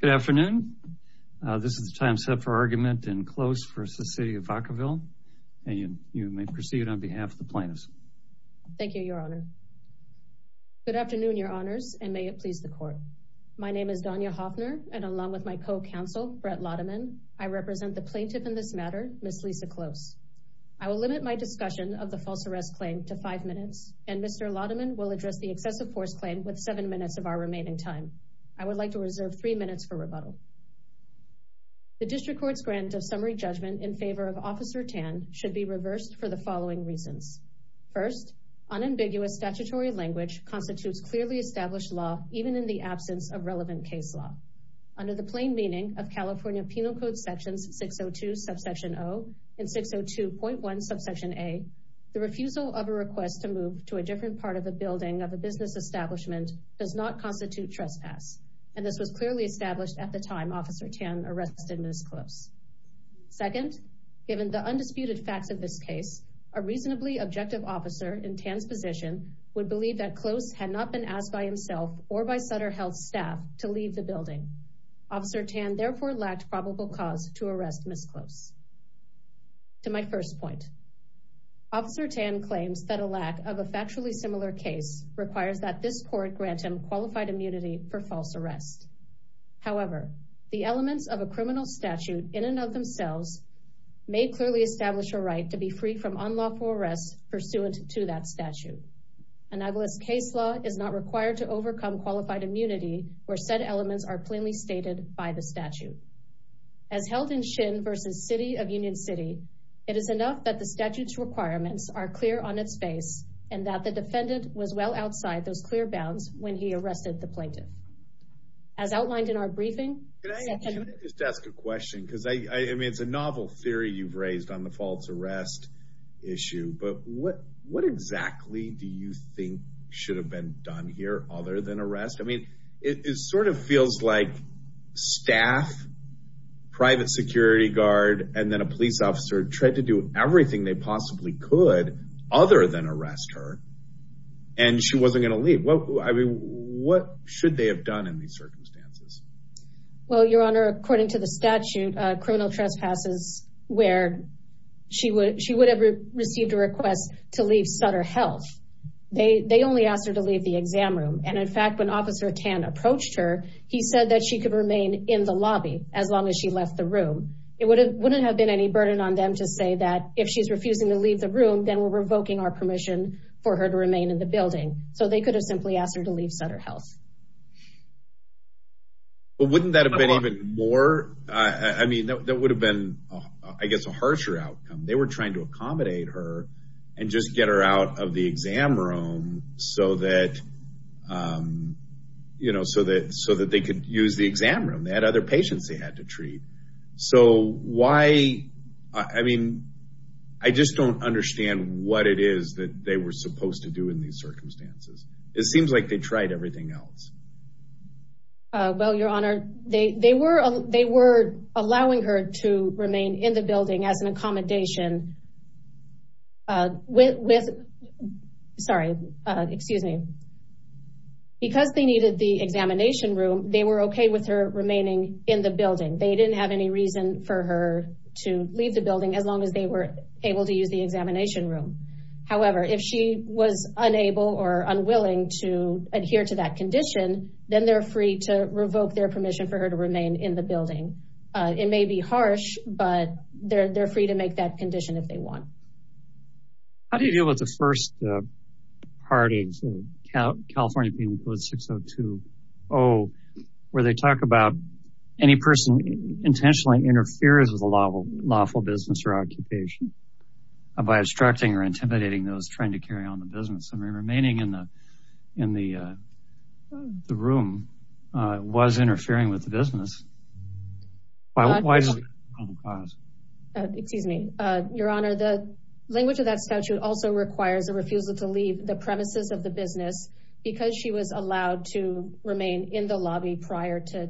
Good afternoon. This is the time set for argument in Close v. City of Vacaville, and you may proceed on behalf of the plaintiffs. Thank you, Your Honor. Good afternoon, Your Honors, and may it please the Court. My name is Donya Hoffner, and along with my co-counsel, Brett Lauderman, I represent the plaintiff in this matter, Ms. Lisa Close. I will limit my discussion of the false arrest claim to five minutes, and Mr. Lauderman will address the excessive force claim with seven minutes of our remaining time. I would like to reserve three minutes for rebuttal. The District Court's grant of summary judgment in favor of Officer Tan should be reversed for the following reasons. First, unambiguous statutory language constitutes clearly established law, even in the absence of relevant case law. Under the plain meaning of California Penal Code Sections 602, Subsection O and 602.1, Subsection A, the refusal of a request to move to a different part of the building of a business establishment does not constitute trespass. And this was clearly established at the time Officer Tan arrested Ms. Close. Second, given the undisputed facts of this case, a reasonably objective officer in Tan's position would believe that Close had not been asked by himself or by Sutter Health staff to leave the building. Officer Tan therefore lacked probable cause to arrest Ms. Close. To my first point, Officer Tan claims that a lack of a factually similar case requires that this court grant him qualified immunity for false arrest. However, the elements of a criminal statute in and of themselves may clearly establish a right to be free from unlawful arrest pursuant to that statute. An agilist case law is not required to overcome qualified immunity where said elements are plainly stated by the statute. As held in Shin v. City of Union City, it is enough that the statute's requirements are clear on its face and that the defendant was well outside those clear bounds when he arrested the plaintiff. As outlined in our briefing. Can I just ask a question? Because I mean, it's a novel theory you've raised on the false arrest issue. But what exactly do you think should have been done here other than arrest? I mean, it sort of feels like staff, private security guard, and then a police officer tried to do everything they possibly could other than arrest her. And she wasn't going to leave. I mean, what should they have done in these circumstances? Well, Your Honor, according to the statute, criminal trespasses where she would have received a request to leave Sutter Health. They only asked her to leave the exam room. And in fact, when Officer Tan approached her, he said that she could remain in the lobby as long as she left the room. It wouldn't have been any burden on them to say that if she's refusing to leave the room, then we're revoking our permission for her to remain in the building. So they could have simply asked her to leave Sutter Health. But wouldn't that have been even more? I mean, that would have been, I guess, a harsher outcome. They were trying to accommodate her and just get her out of the exam room so that they could use the exam room. They had other patients they had to treat. So why, I mean, I just don't understand what it is that they were supposed to do in these circumstances. It seems like they tried everything else. Well, Your Honor, they were allowing her to remain in the building as an accommodation with, sorry, excuse me. Because they needed the examination room, they were okay with her remaining in the building. They didn't have any reason for her to leave the building as long as they were able to use the examination room. However, if she was unable or unwilling to adhere to that condition, then they're free to revoke their permission for her to remain in the building. It may be harsh, but they're free to make that condition if they want. How do you deal with the first part of California Penal Code 6020, where they talk about any person intentionally interferes with a lawful business or occupation by obstructing or intimidating those trying to carry on the business? I mean, remaining in the room was interfering with the business. Excuse me, Your Honor, the language of that statute also requires a refusal to leave the premises of the business because she was allowed to remain in the lobby prior to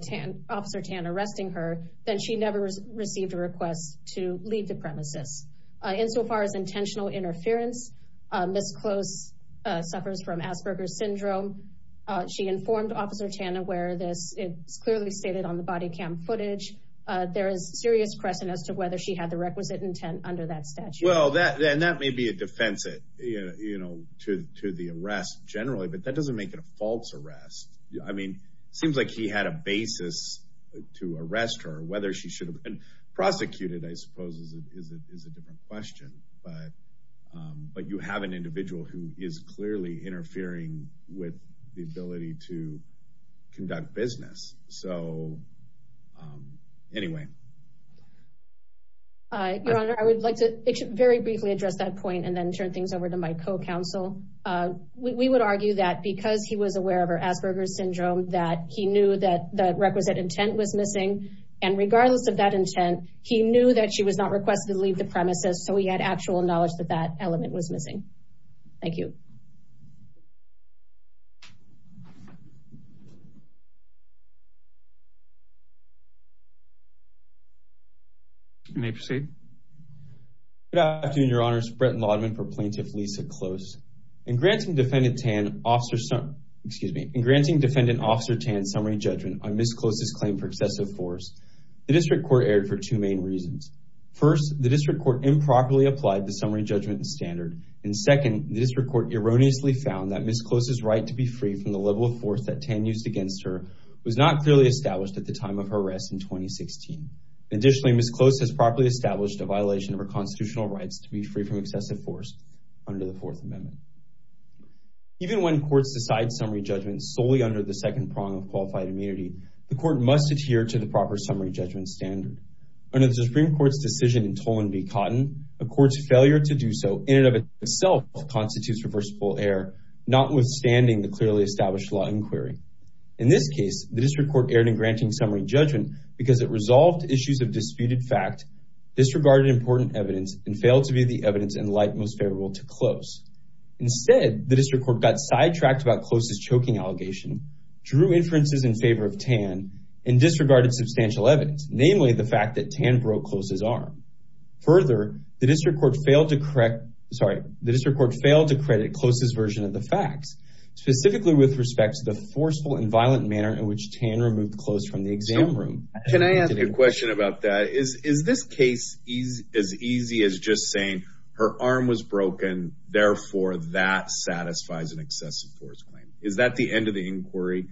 Officer Tan arresting her. Then she never received a request to leave the premises. Insofar as intentional interference, Miss Close suffers from Asperger's syndrome. She informed Officer Tan where this is clearly stated on the body cam footage. There is serious question as to whether she had the requisite intent under that statute. Well, then that may be a defense to the arrest generally, but that doesn't make it a false arrest. I mean, seems like he had a basis to arrest her. Whether she should have been prosecuted, I suppose, is a different question. But you have an individual who is clearly interfering with the ability to conduct business. So anyway. Your Honor, I would like to very briefly address that point and then turn things over to my co-counsel. We would argue that because he was aware of her Asperger's syndrome, that he knew that the requisite intent was missing. And regardless of that intent, he knew that she was not requested to leave the premises. So he had actual knowledge that that element was missing. Thank you. You may proceed. Good afternoon, Your Honor. This is Brett Lauderman for Plaintiff Lisa Close. In granting Defendant Officer Tan summary judgment on Ms. Close's claim for excessive force, the District Court erred for two main reasons. First, the District Court improperly applied the summary judgment standard. And second, the District Court erroneously found that Ms. Close's right to be free from the level of force that Tan used against her was not clearly established at the time of her arrest in 2016. Additionally, Ms. Close has properly established a violation of her constitutional rights to be free from excessive force under the Fourth Amendment. Even when courts decide summary judgments solely under the second prong of qualified immunity, the court must adhere to the proper summary judgment standard. Under the Supreme Court's decision in Tolan v. Cotton, a court's failure to do so in and of itself constitutes reversible error, notwithstanding the clearly established law inquiry. In this case, the District Court erred in granting summary judgment because it resolved issues of disputed fact, disregarded important evidence, and failed to view the evidence in light most favorable to Close. Instead, the District Court got sidetracked about Close's choking allegation, drew inferences in favor of Tan, and disregarded substantial evidence, namely the fact that Tan broke Close's arm. Further, the District Court failed to credit Close's version of the facts, specifically with respect to the forceful and violent manner in which Tan removed Close from the exam room. Can I ask a question about that? Is this case as easy as just saying her arm was broken, therefore that satisfies an excessive force claim? Is that the end of the inquiry?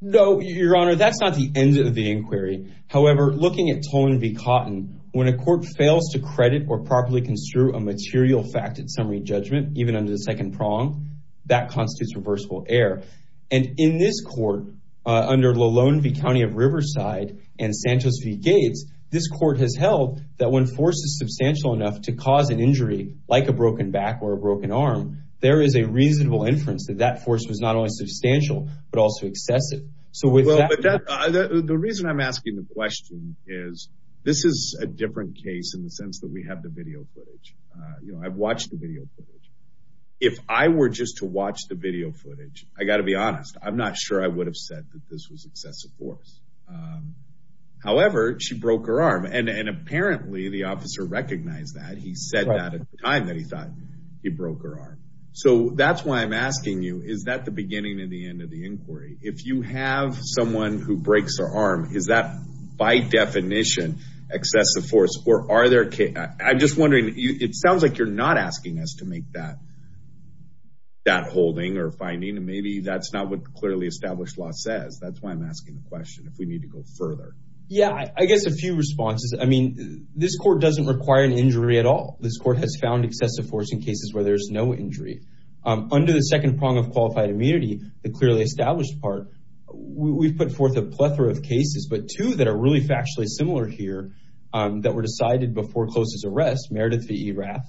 No, Your Honor, that's not the end of the inquiry. However, looking at Tolan v. Cotton, when a court fails to credit or properly construe a material fact at summary judgment, even under the second prong, that constitutes reversible error. And in this court, under Lalone v. County of Riverside and Santos v. Gates, this court has held that when force is substantial enough to cause an injury, like a broken back or a broken arm, there is a reasonable inference that that force was not only substantial, but also excessive. The reason I'm asking the question is, this is a different case in the sense that we have the video footage. I've watched the video footage. If I were just to watch the video footage, I've got to be honest, I'm not sure I would have said that this was excessive force. However, she broke her arm, and apparently the officer recognized that. He said that at the time that he thought he broke her arm. So that's why I'm asking you, is that the beginning and the end of the inquiry? If you have someone who breaks their arm, is that by definition excessive force? I'm just wondering, it sounds like you're not asking us to make that holding or finding, and maybe that's not what the clearly established law says. That's why I'm asking the question, if we need to go further. Yeah, I guess a few responses. I mean, this court doesn't require an injury at all. This court has found excessive force in cases where there's no injury. Under the second prong of qualified immunity, the clearly established part, we've put forth a plethora of cases. But two that are really factually similar here that were decided before close's arrest, Meredith V. Erath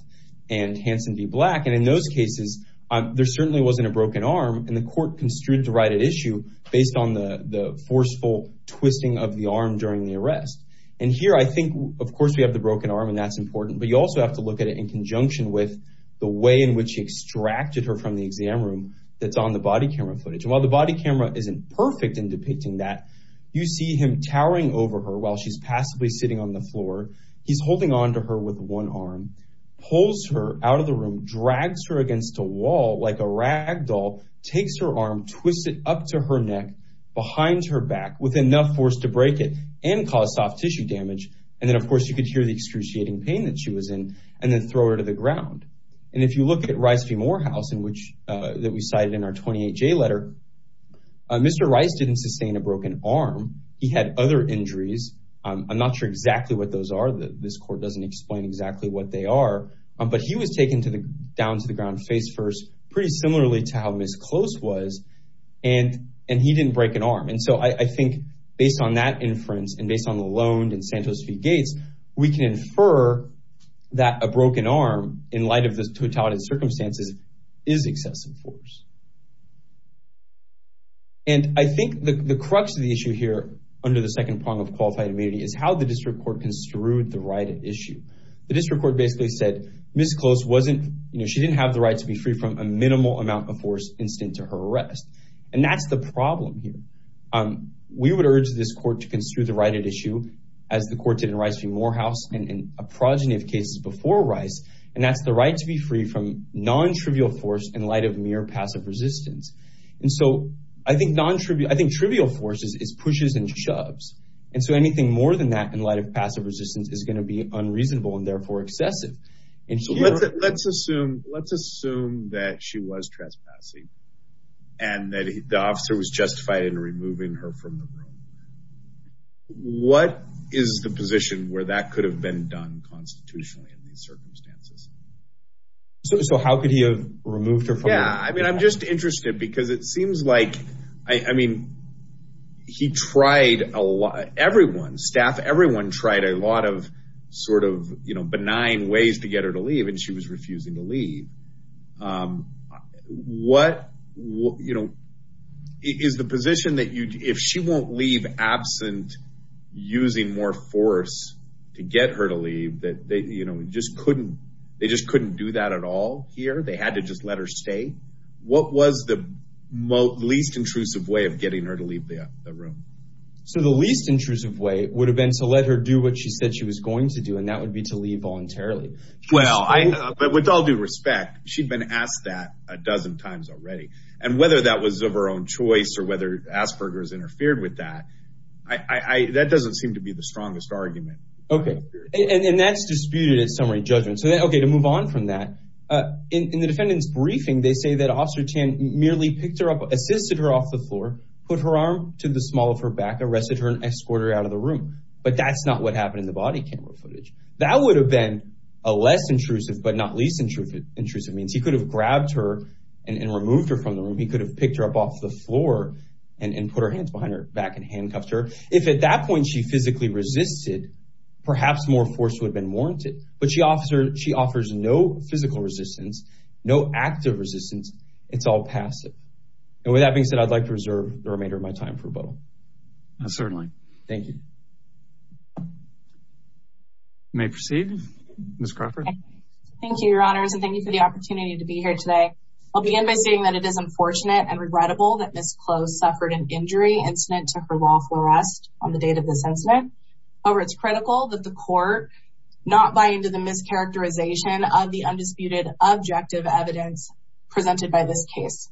and Hanson V. Black. And in those cases, there certainly wasn't a broken arm, and the court construed the right at issue based on the forceful twisting of the arm during the arrest. And here, I think, of course, we have the broken arm, and that's important. But you also have to look at it in conjunction with the way in which he extracted her from the exam room that's on the body camera footage. And while the body camera isn't perfect in depicting that, you see him towering over her while she's passively sitting on the floor. He's holding onto her with one arm, pulls her out of the room, drags her against a wall like a rag doll, takes her arm, twists it up to her neck behind her back with enough force to break it and cause soft tissue damage. And then, of course, you could hear the excruciating pain that she was in and then throw her to the ground. And if you look at Rice v. Morehouse that we cited in our 28-J letter, Mr. Rice didn't sustain a broken arm. He had other injuries. I'm not sure exactly what those are. This court doesn't explain exactly what they are. But he was taken down to the ground face first, pretty similarly to how Ms. Close was, and he didn't break an arm. And so I think based on that inference and based on the loan in Santos v. Gates, we can infer that a broken arm, in light of the totality of circumstances, is excessive force. And I think the crux of the issue here, under the second prong of qualified immunity, is how the district court construed the right at issue. The district court basically said Ms. Close didn't have the right to be free from a minimal amount of force instant to her arrest. And that's the problem here. We would urge this court to construe the right at issue, as the court did in Rice v. Morehouse and a progeny of cases before Rice, and that's the right to be free from non-trivial force in light of mere passive resistance. And so I think trivial force is pushes and shoves. And so anything more than that in light of passive resistance is going to be unreasonable and therefore excessive. So let's assume that she was trespassing and that the officer was justified in removing her from the room. What is the position where that could have been done constitutionally in these circumstances? So how could he have removed her from the room? They just couldn't do that at all here. They had to just let her stay. What was the least intrusive way of getting her to leave the room? So the least intrusive way would have been to let her do what she said she was going to do, and that would be to leave voluntarily. Well, I know, but with all due respect, she'd been asked that a dozen times already. And whether that was of her own choice or whether Asperger's interfered with that, that doesn't seem to be the strongest argument. Okay. And that's disputed in summary judgment. So, okay, to move on from that, in the defendant's briefing, they say that Officer Tan merely picked her up, assisted her off the floor, put her arm to the small of her back, arrested her, and escorted her out of the room. But that's not what happened in the body camera footage. That would have been a less intrusive but not least intrusive means. Perhaps more force would have been warranted, but she offers no physical resistance, no active resistance. It's all passive. And with that being said, I'd like to reserve the remainder of my time for rebuttal. Certainly. Thank you. You may proceed, Ms. Crawford. Thank you, Your Honors, and thank you for the opportunity to be here today. I'll begin by stating that it is unfortunate and regrettable that Ms. Close suffered an injury incident to her lawful arrest on the date of this incident. However, it's critical that the court not buy into the mischaracterization of the undisputed objective evidence presented by this case.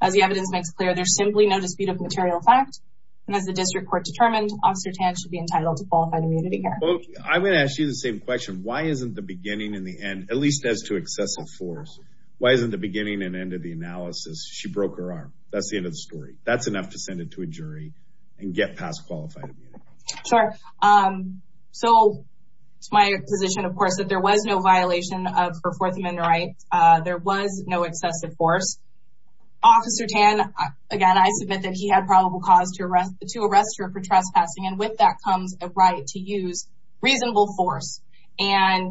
As the evidence makes clear, there's simply no dispute of material fact, and as the district court determined, Officer Tan should be entitled to qualified immunity here. I'm going to ask you the same question. Why isn't the beginning and the end, at least as to excessive force, why isn't the beginning and end of the analysis, she broke her arm? That's the end of the story. That's enough to send it to a jury and get past qualified immunity. Sure. So it's my position, of course, that there was no violation of her Fourth Amendment rights. There was no excessive force. Officer Tan, again, I submit that he had probable cause to arrest her for trespassing, and with that comes a right to use reasonable force, and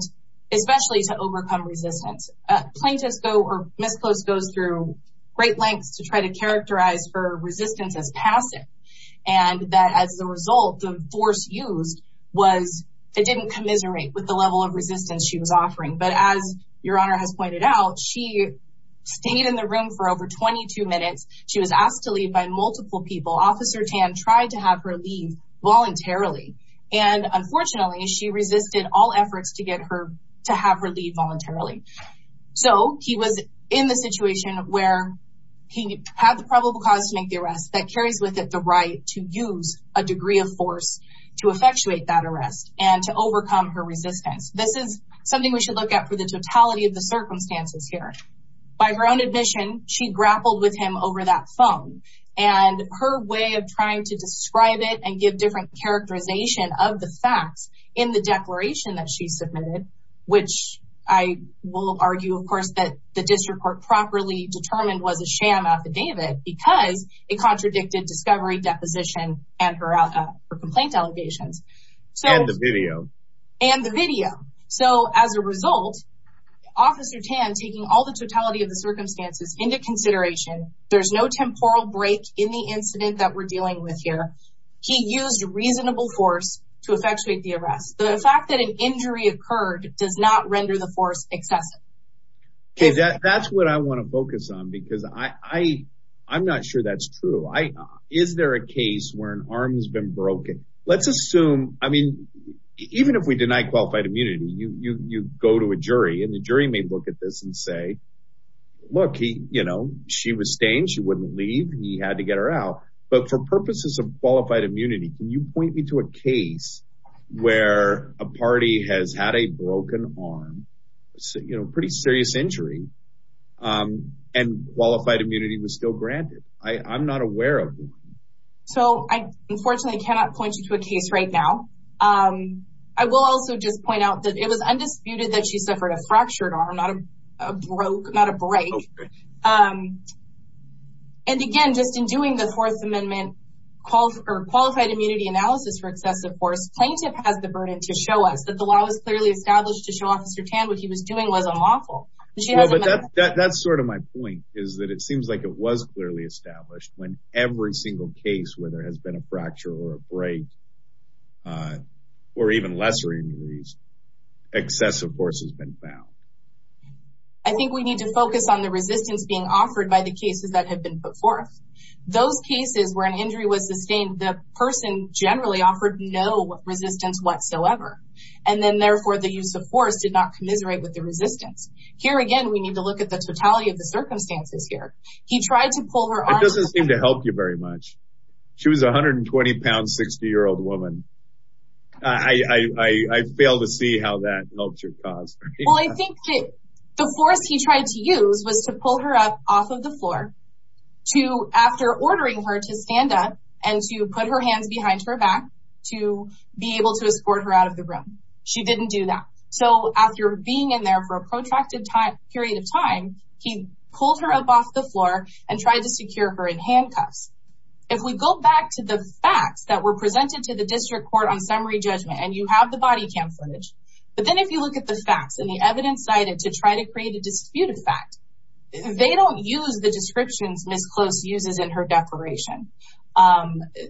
especially to overcome resistance. Plaintiffs go, or Ms. Close goes through great lengths to try to characterize her resistance as passive, and that as a result, the force used was, it didn't commiserate with the level of resistance she was offering, but as Your Honor has pointed out, she stayed in the room for over 22 minutes. She was asked to leave by multiple people. Officer Tan tried to have her leave voluntarily, and unfortunately, she resisted all efforts to have her leave voluntarily. So he was in the situation where he had the probable cause to make the arrest that carries with it the right to use a degree of force to effectuate that arrest and to overcome her resistance. This is something we should look at for the totality of the circumstances here. By her own admission, she grappled with him over that phone, and her way of trying to describe it and give different characterization of the facts in the declaration that she submitted, which I will argue, of course, that the district court properly determined was a sham affidavit because it contradicted discovery, deposition, and her complaint allegations. And the video. And the video. So as a result, Officer Tan, taking all the totality of the circumstances into consideration, there's no temporal break in the incident that we're dealing with here. He used reasonable force to effectuate the arrest. The fact that an injury occurred does not render the force excessive. That's what I want to focus on, because I'm not sure that's true. Is there a case where an arm has been broken? Let's assume, I mean, even if we deny qualified immunity, you go to a jury and the jury may look at this and say, look, you know, she was staying, she wouldn't leave, he had to get her out. But for purposes of qualified immunity, can you point me to a case where a party has had a broken arm, you know, pretty serious injury, and qualified immunity was still granted? I'm not aware of it. So I unfortunately cannot point you to a case right now. I will also just point out that it was undisputed that she suffered a fractured arm, not a broke, not a break. And again, just in doing the Fourth Amendment qualified immunity analysis for excessive force, plaintiff has the burden to show us that the law was clearly established to show Officer Tan what he was doing was unlawful. That's sort of my point, is that it seems like it was clearly established when every single case where there has been a fracture or a break, or even lesser injuries, excessive force has been found. I think we need to focus on the resistance being offered by the cases that have been put forth. Those cases where an injury was sustained, the person generally offered no resistance whatsoever. And then therefore, the use of force did not commiserate with the resistance. Here again, we need to look at the totality of the circumstances here. He tried to pull her arm. It doesn't seem to help you very much. She was a 120-pound, 60-year-old woman. I fail to see how that helps your cause. Well, I think that the force he tried to use was to pull her up off of the floor after ordering her to stand up and to put her hands behind her back to be able to escort her out of the room. She didn't do that. So after being in there for a protracted period of time, he pulled her up off the floor and tried to secure her in handcuffs. If we go back to the facts that were presented to the district court on summary judgment and you have the body cam footage, but then if you look at the facts and the evidence cited to try to create a disputed fact, they don't use the descriptions Ms. Close uses in her declaration.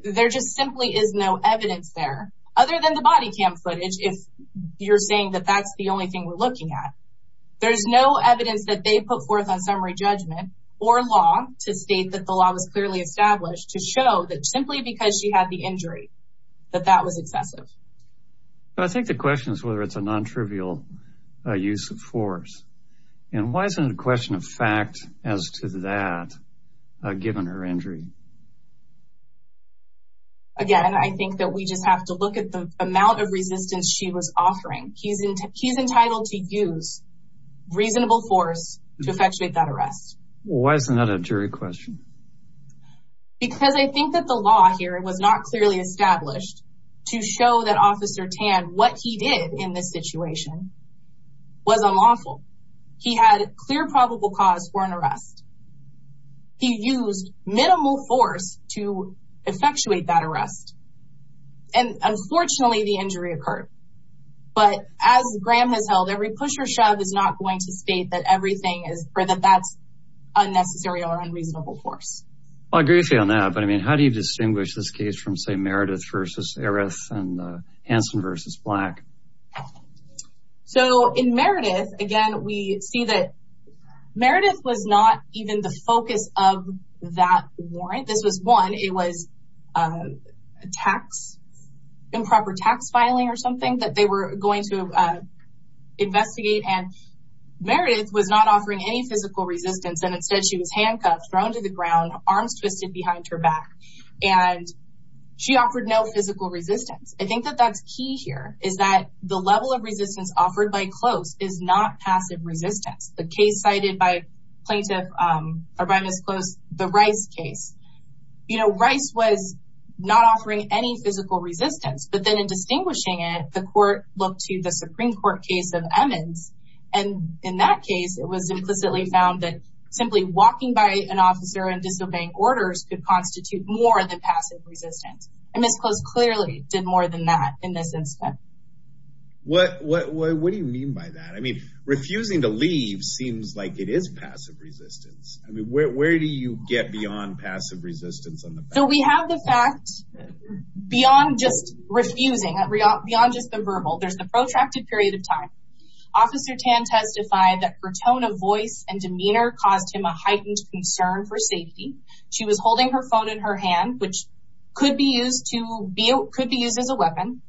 There just simply is no evidence there, other than the body cam footage, if you're saying that that's the only thing we're looking at. There's no evidence that they put forth on summary judgment or law to state that the law was clearly established to show that simply because she had the injury, that that was excessive. I think the question is whether it's a non-trivial use of force. And why isn't it a question of fact as to that, given her injury? Again, I think that we just have to look at the amount of resistance she was offering. He's entitled to use reasonable force to effectuate that arrest. Why isn't that a jury question? Because I think that the law here was not clearly established to show that Officer Tan, what he did in this situation was unlawful. He had clear probable cause for an arrest. He used minimal force to effectuate that arrest. And unfortunately, the injury occurred. But as Graham has held, every push or shove is not going to state that everything is, or that that's unnecessary or unreasonable force. Well, I agree with you on that. But I mean, how do you distinguish this case from, say, Meredith versus Eris and Hanson versus Black? So in Meredith, again, we see that Meredith was not even the focus of that warrant. This was one. It was a tax, improper tax filing or something that they were going to investigate. And Meredith was not offering any physical resistance. And instead, she was handcuffed, thrown to the ground, arms twisted behind her back. And she offered no physical resistance. I think that that's key here, is that the level of resistance offered by Close is not passive resistance. The case cited by Plaintiff, or by Ms. Close, the Rice case, you know, Rice was not offering any physical resistance. But then in distinguishing it, the court looked to the Supreme Court case of Emmons. And in that case, it was implicitly found that simply walking by an officer and disobeying orders could constitute more than passive resistance. And Ms. Close clearly did more than that in this instance. What do you mean by that? I mean, refusing to leave seems like it is passive resistance. I mean, where do you get beyond passive resistance on the back? So we have the fact beyond just refusing, beyond just the verbal, there's the protracted period of time. Officer Tan testified that her tone of voice and demeanor caused him a heightened concern for safety. She was holding her phone in her hand, which could be used as a weapon.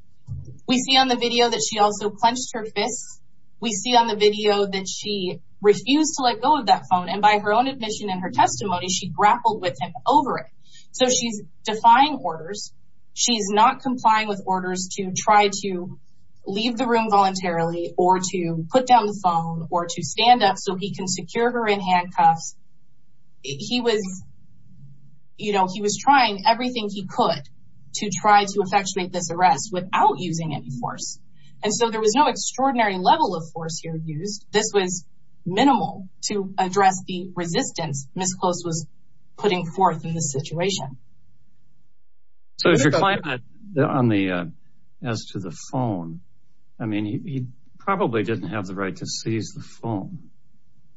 We see on the video that she also clenched her fists. We see on the video that she refused to let go of that phone. And by her own admission and her testimony, she grappled with him over it. So she's defying orders. She's not complying with orders to try to leave the room voluntarily or to put down the phone or to stand up so he can secure her in handcuffs. He was, you know, he was trying everything he could to try to effectuate this arrest without using any force. And so there was no extraordinary level of force here used. This was minimal to address the resistance Ms. Close was putting forth in this situation. So if your client on the, as to the phone, I mean, he probably didn't have the right to seize the phone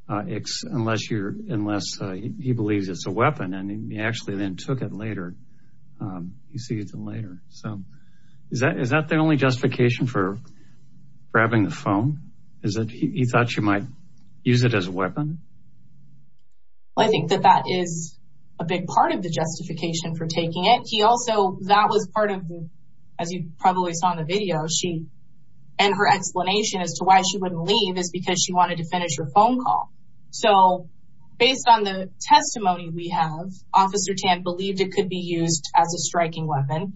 unless you're, unless he believes it's a weapon. And he actually then took it later. He seized it later. So is that the only justification for grabbing the phone? Is that he thought she might use it as a weapon? I think that that is a big part of the justification for taking it. He also, that was part of, as you probably saw in the video, she and her explanation as to why she wouldn't leave is because she wanted to finish her phone call. So based on the testimony we have, Officer Tan believed it could be used as a striking weapon.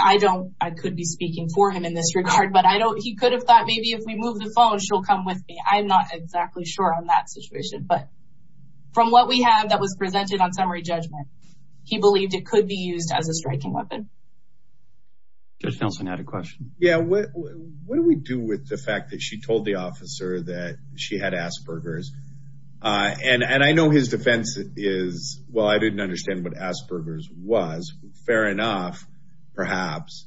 I don't, I could be speaking for him in this regard, but I don't, he could have thought maybe if we move the phone, she'll come with me. I'm not exactly sure on that situation, but from what we have that was presented on summary judgment, he believed it could be used as a striking weapon. Judge Nelson had a question. Yeah. What do we do with the fact that she told the officer that she had Asperger's? And I know his defense is, well, I didn't understand what Asperger's was. Fair enough, perhaps.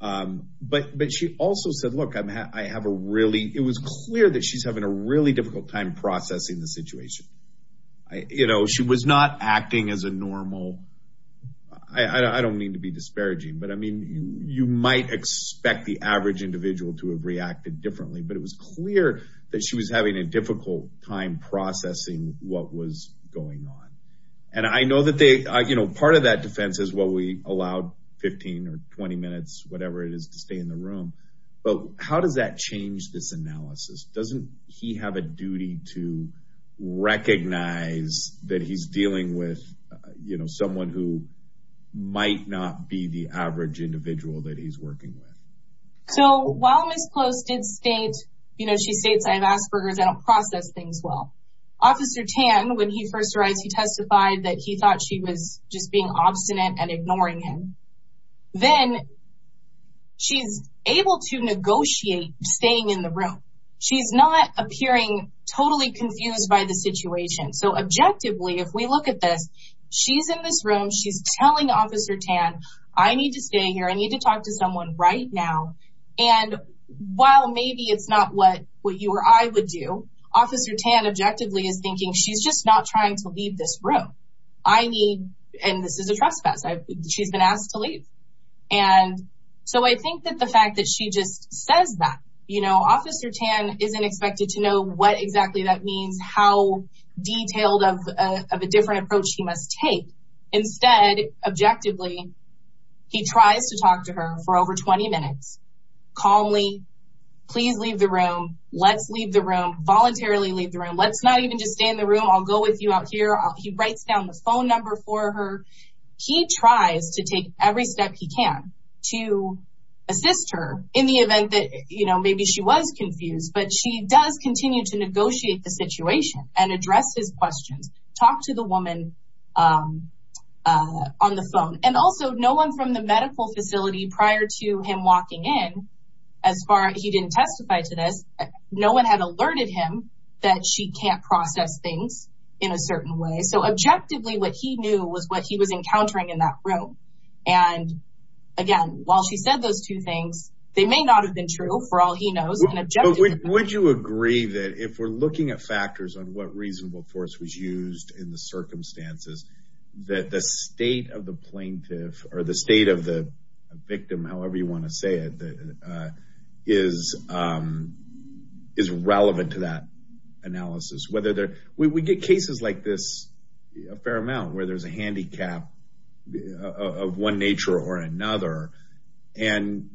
But she also said, look, I have a really, it was clear that she's having a really difficult time processing the situation. You know, she was not acting as a normal, I don't mean to be disparaging, but I mean, you might expect the average individual to have reacted differently. But it was clear that she was having a difficult time processing what was going on. And I know that they, you know, part of that defense is what we allowed 15 or 20 minutes, whatever it is, to stay in the room. But how does that change this analysis? Doesn't he have a duty to recognize that he's dealing with, you know, someone who might not be the average individual that he's working with? So while Ms. Close did state, you know, she states, I have Asperger's, I don't process things well. Officer Tan, when he first arrived, he testified that he thought she was just being obstinate and ignoring him. Then she's able to negotiate staying in the room. She's not appearing totally confused by the situation. So objectively, if we look at this, she's in this room, she's telling Officer Tan, I need to stay here. I need to talk to someone right now. And while maybe it's not what you or I would do, Officer Tan objectively is thinking she's just not trying to leave this room. I need, and this is a trespass. She's been asked to leave. And so I think that the fact that she just says that, you know, Officer Tan isn't expected to know what exactly that means. How detailed of a different approach he must take. Instead, objectively, he tries to talk to her for over 20 minutes. Calmly, please leave the room. Let's leave the room. Voluntarily leave the room. Let's not even just stay in the room. I'll go with you out here. He writes down the phone number for her. He tries to take every step he can to assist her in the event that, you know, maybe she was confused. But she does continue to negotiate the situation and address his questions. Talk to the woman on the phone. And also, no one from the medical facility prior to him walking in, as far as he didn't testify to this, no one had alerted him that she can't process things in a certain way. So, objectively, what he knew was what he was encountering in that room. And, again, while she said those two things, they may not have been true for all he knows. Would you agree that if we're looking at factors on what reasonable force was used in the circumstances, that the state of the plaintiff or the state of the victim, however you want to say it, is relevant to that analysis? We get cases like this a fair amount where there's a handicap of one nature or another. And,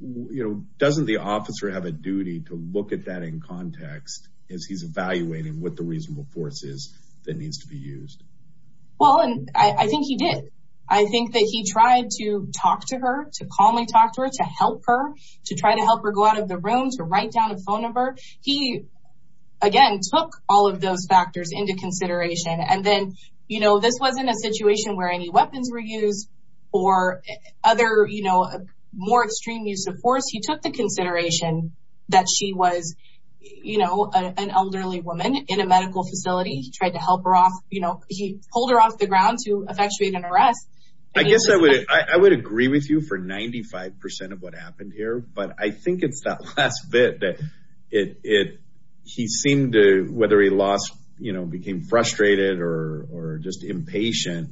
you know, doesn't the officer have a duty to look at that in context as he's evaluating what the reasonable force is that needs to be used? Well, I think he did. I think that he tried to talk to her, to calmly talk to her, to help her, to try to help her go out of the room, to write down a phone number. He, again, took all of those factors into consideration. And then, you know, this wasn't a situation where any weapons were used or other, you know, more extreme use of force. He took the consideration that she was, you know, an elderly woman in a medical facility. He tried to help her off. You know, he pulled her off the ground to effectuate an arrest. I guess I would agree with you for 95% of what happened here. But I think it's that last bit that he seemed to, whether he lost, you know, became frustrated or just impatient.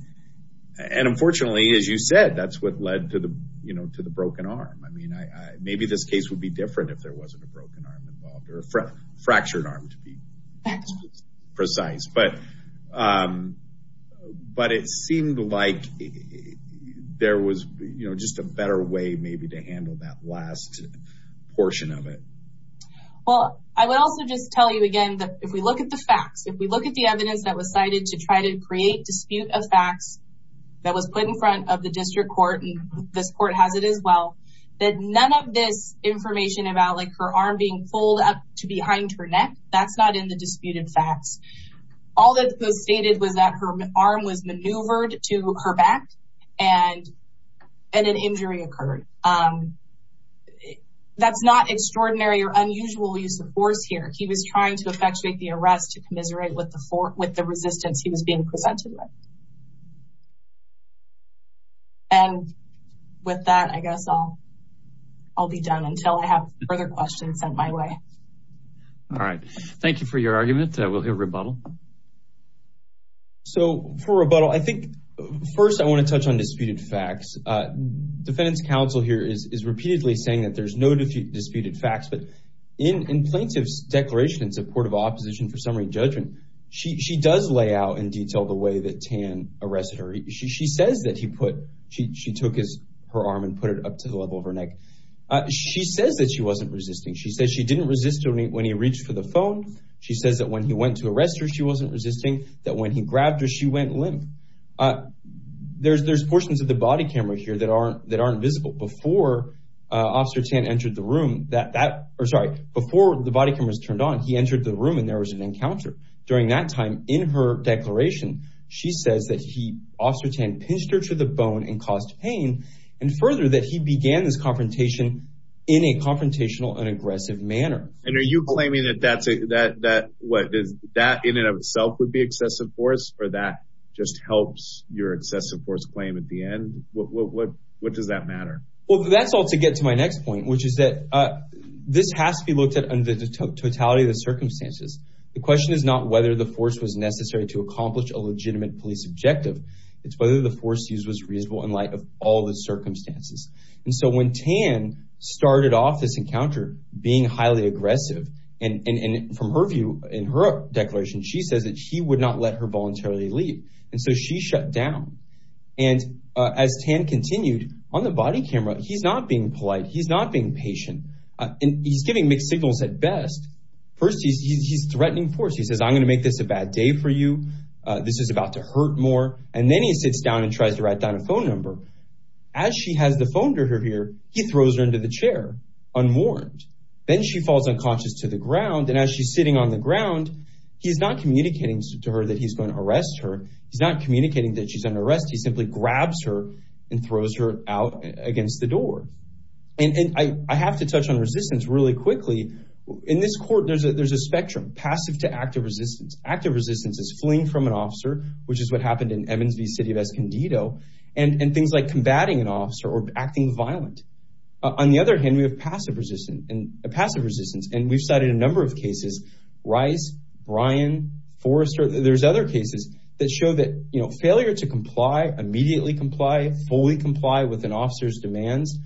And unfortunately, as you said, that's what led to the, you know, to the broken arm. I mean, maybe this case would be different if there wasn't a broken arm involved or a fractured arm, to be precise. But it seemed like there was, you know, just a better way maybe to handle that last portion of it. Well, I would also just tell you again that if we look at the facts, if we look at the evidence that was cited to try to create dispute of facts that was put in front of the district court, and this court has it as well, that none of this information about like her arm being pulled up to behind her neck, that's not in the disputed facts. All that was stated was that her arm was maneuvered to her back and an injury occurred. That's not extraordinary or unusual use of force here. He was trying to effectuate the arrest to commiserate with the resistance he was being presented with. And with that, I guess I'll be done until I have further questions sent my way. All right. Thank you for your argument. We'll hear rebuttal. So for rebuttal, I think first I want to touch on disputed facts. Defendant's counsel here is repeatedly saying that there's no disputed facts. But in plaintiff's declaration in support of opposition for summary judgment, she does lay out in detail the way that Tan arrested her. She says that he put she took his her arm and put it up to the level of her neck. She says that she wasn't resisting. She says she didn't resist when he reached for the phone. She says that when he went to arrest her, she wasn't resisting, that when he grabbed her, she went limp. There's there's portions of the body camera here that aren't that aren't visible. Before Officer Tan entered the room that that or sorry, before the body cameras turned on, he entered the room and there was an encounter. During that time in her declaration, she says that he also pinched her to the bone and caused pain. And further, that he began this confrontation in a confrontational and aggressive manner. And are you claiming that that's a that that what is that in and of itself would be excessive force or that just helps your excessive force claim at the end? What does that matter? Well, that's all to get to my next point, which is that this has to be looked at under the totality of the circumstances. The question is not whether the force was necessary to accomplish a legitimate police objective. It's whether the force use was reasonable in light of all the circumstances. And so when Tan started off this encounter being highly aggressive and from her view in her declaration, she says that he would not let her voluntarily leave. And so she shut down. And as Tan continued on the body camera, he's not being polite. He's not being patient and he's giving mixed signals at best. First, he's threatening force. He says, I'm going to make this a bad day for you. This is about to hurt more. And then he sits down and tries to write down a phone number as she has the phone to her here. He throws her into the chair unwarned. Then she falls unconscious to the ground. And as she's sitting on the ground, he's not communicating to her that he's going to arrest her. He's not communicating that she's under arrest. He simply grabs her and throws her out against the door. And I have to touch on resistance really quickly. In this court, there's a there's a spectrum passive to active resistance. Active resistance is fleeing from an officer, which is what happened in Evans V. City of Escondido and things like combating an officer or acting violent. On the other hand, we have passive resistance and a passive resistance. And we've cited a number of cases, Rice, Brian, Forrester. There's other cases that show that failure to comply, immediately comply, fully comply with an officer's demands.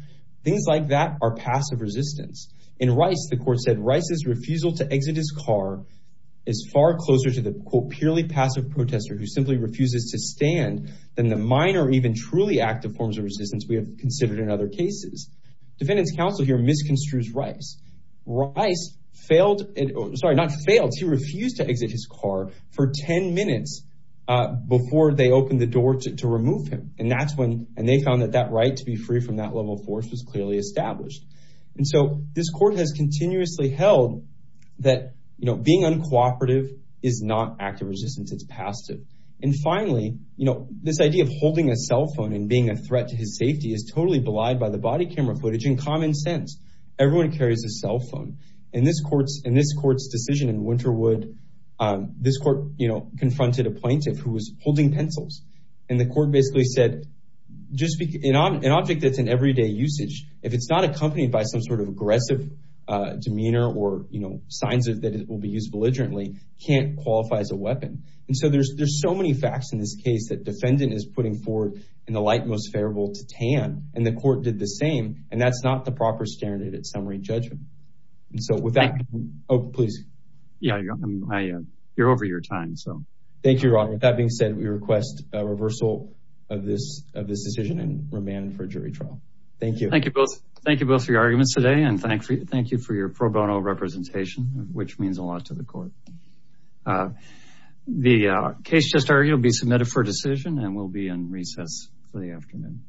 Things like that are passive resistance. In Rice, the court said Rice's refusal to exit his car is far closer to the, quote, purely passive protester who simply refuses to stand than the minor, even truly active forms of resistance we have considered in other cases. Defendant's counsel here misconstrues Rice. Rice failed. Sorry, not failed. He refused to exit his car for 10 minutes before they opened the door to remove him. And that's when and they found that that right to be free from that level of force was clearly established. And so this court has continuously held that being uncooperative is not active resistance, it's passive. And finally, you know, this idea of holding a cell phone and being a threat to his safety is totally belied by the body camera footage. In common sense, everyone carries a cell phone. In this court's decision in Winterwood, this court confronted a plaintiff who was holding pencils. And the court basically said just an object that's in everyday usage. If it's not accompanied by some sort of aggressive demeanor or, you know, signs that it will be used belligerently, can't qualify as a weapon. And so there's there's so many facts in this case that defendant is putting forward in the light most favorable to tan. And the court did the same. And that's not the proper standard at summary judgment. And so with that. Oh, please. Yeah, you're over your time. So thank you. That being said, we request a reversal of this of this decision and remand for jury trial. Thank you. Thank you both. Thank you both for your arguments today. And thank you. Thank you for your pro bono representation, which means a lot to the court. The case just argued will be submitted for decision and will be in recess for the afternoon.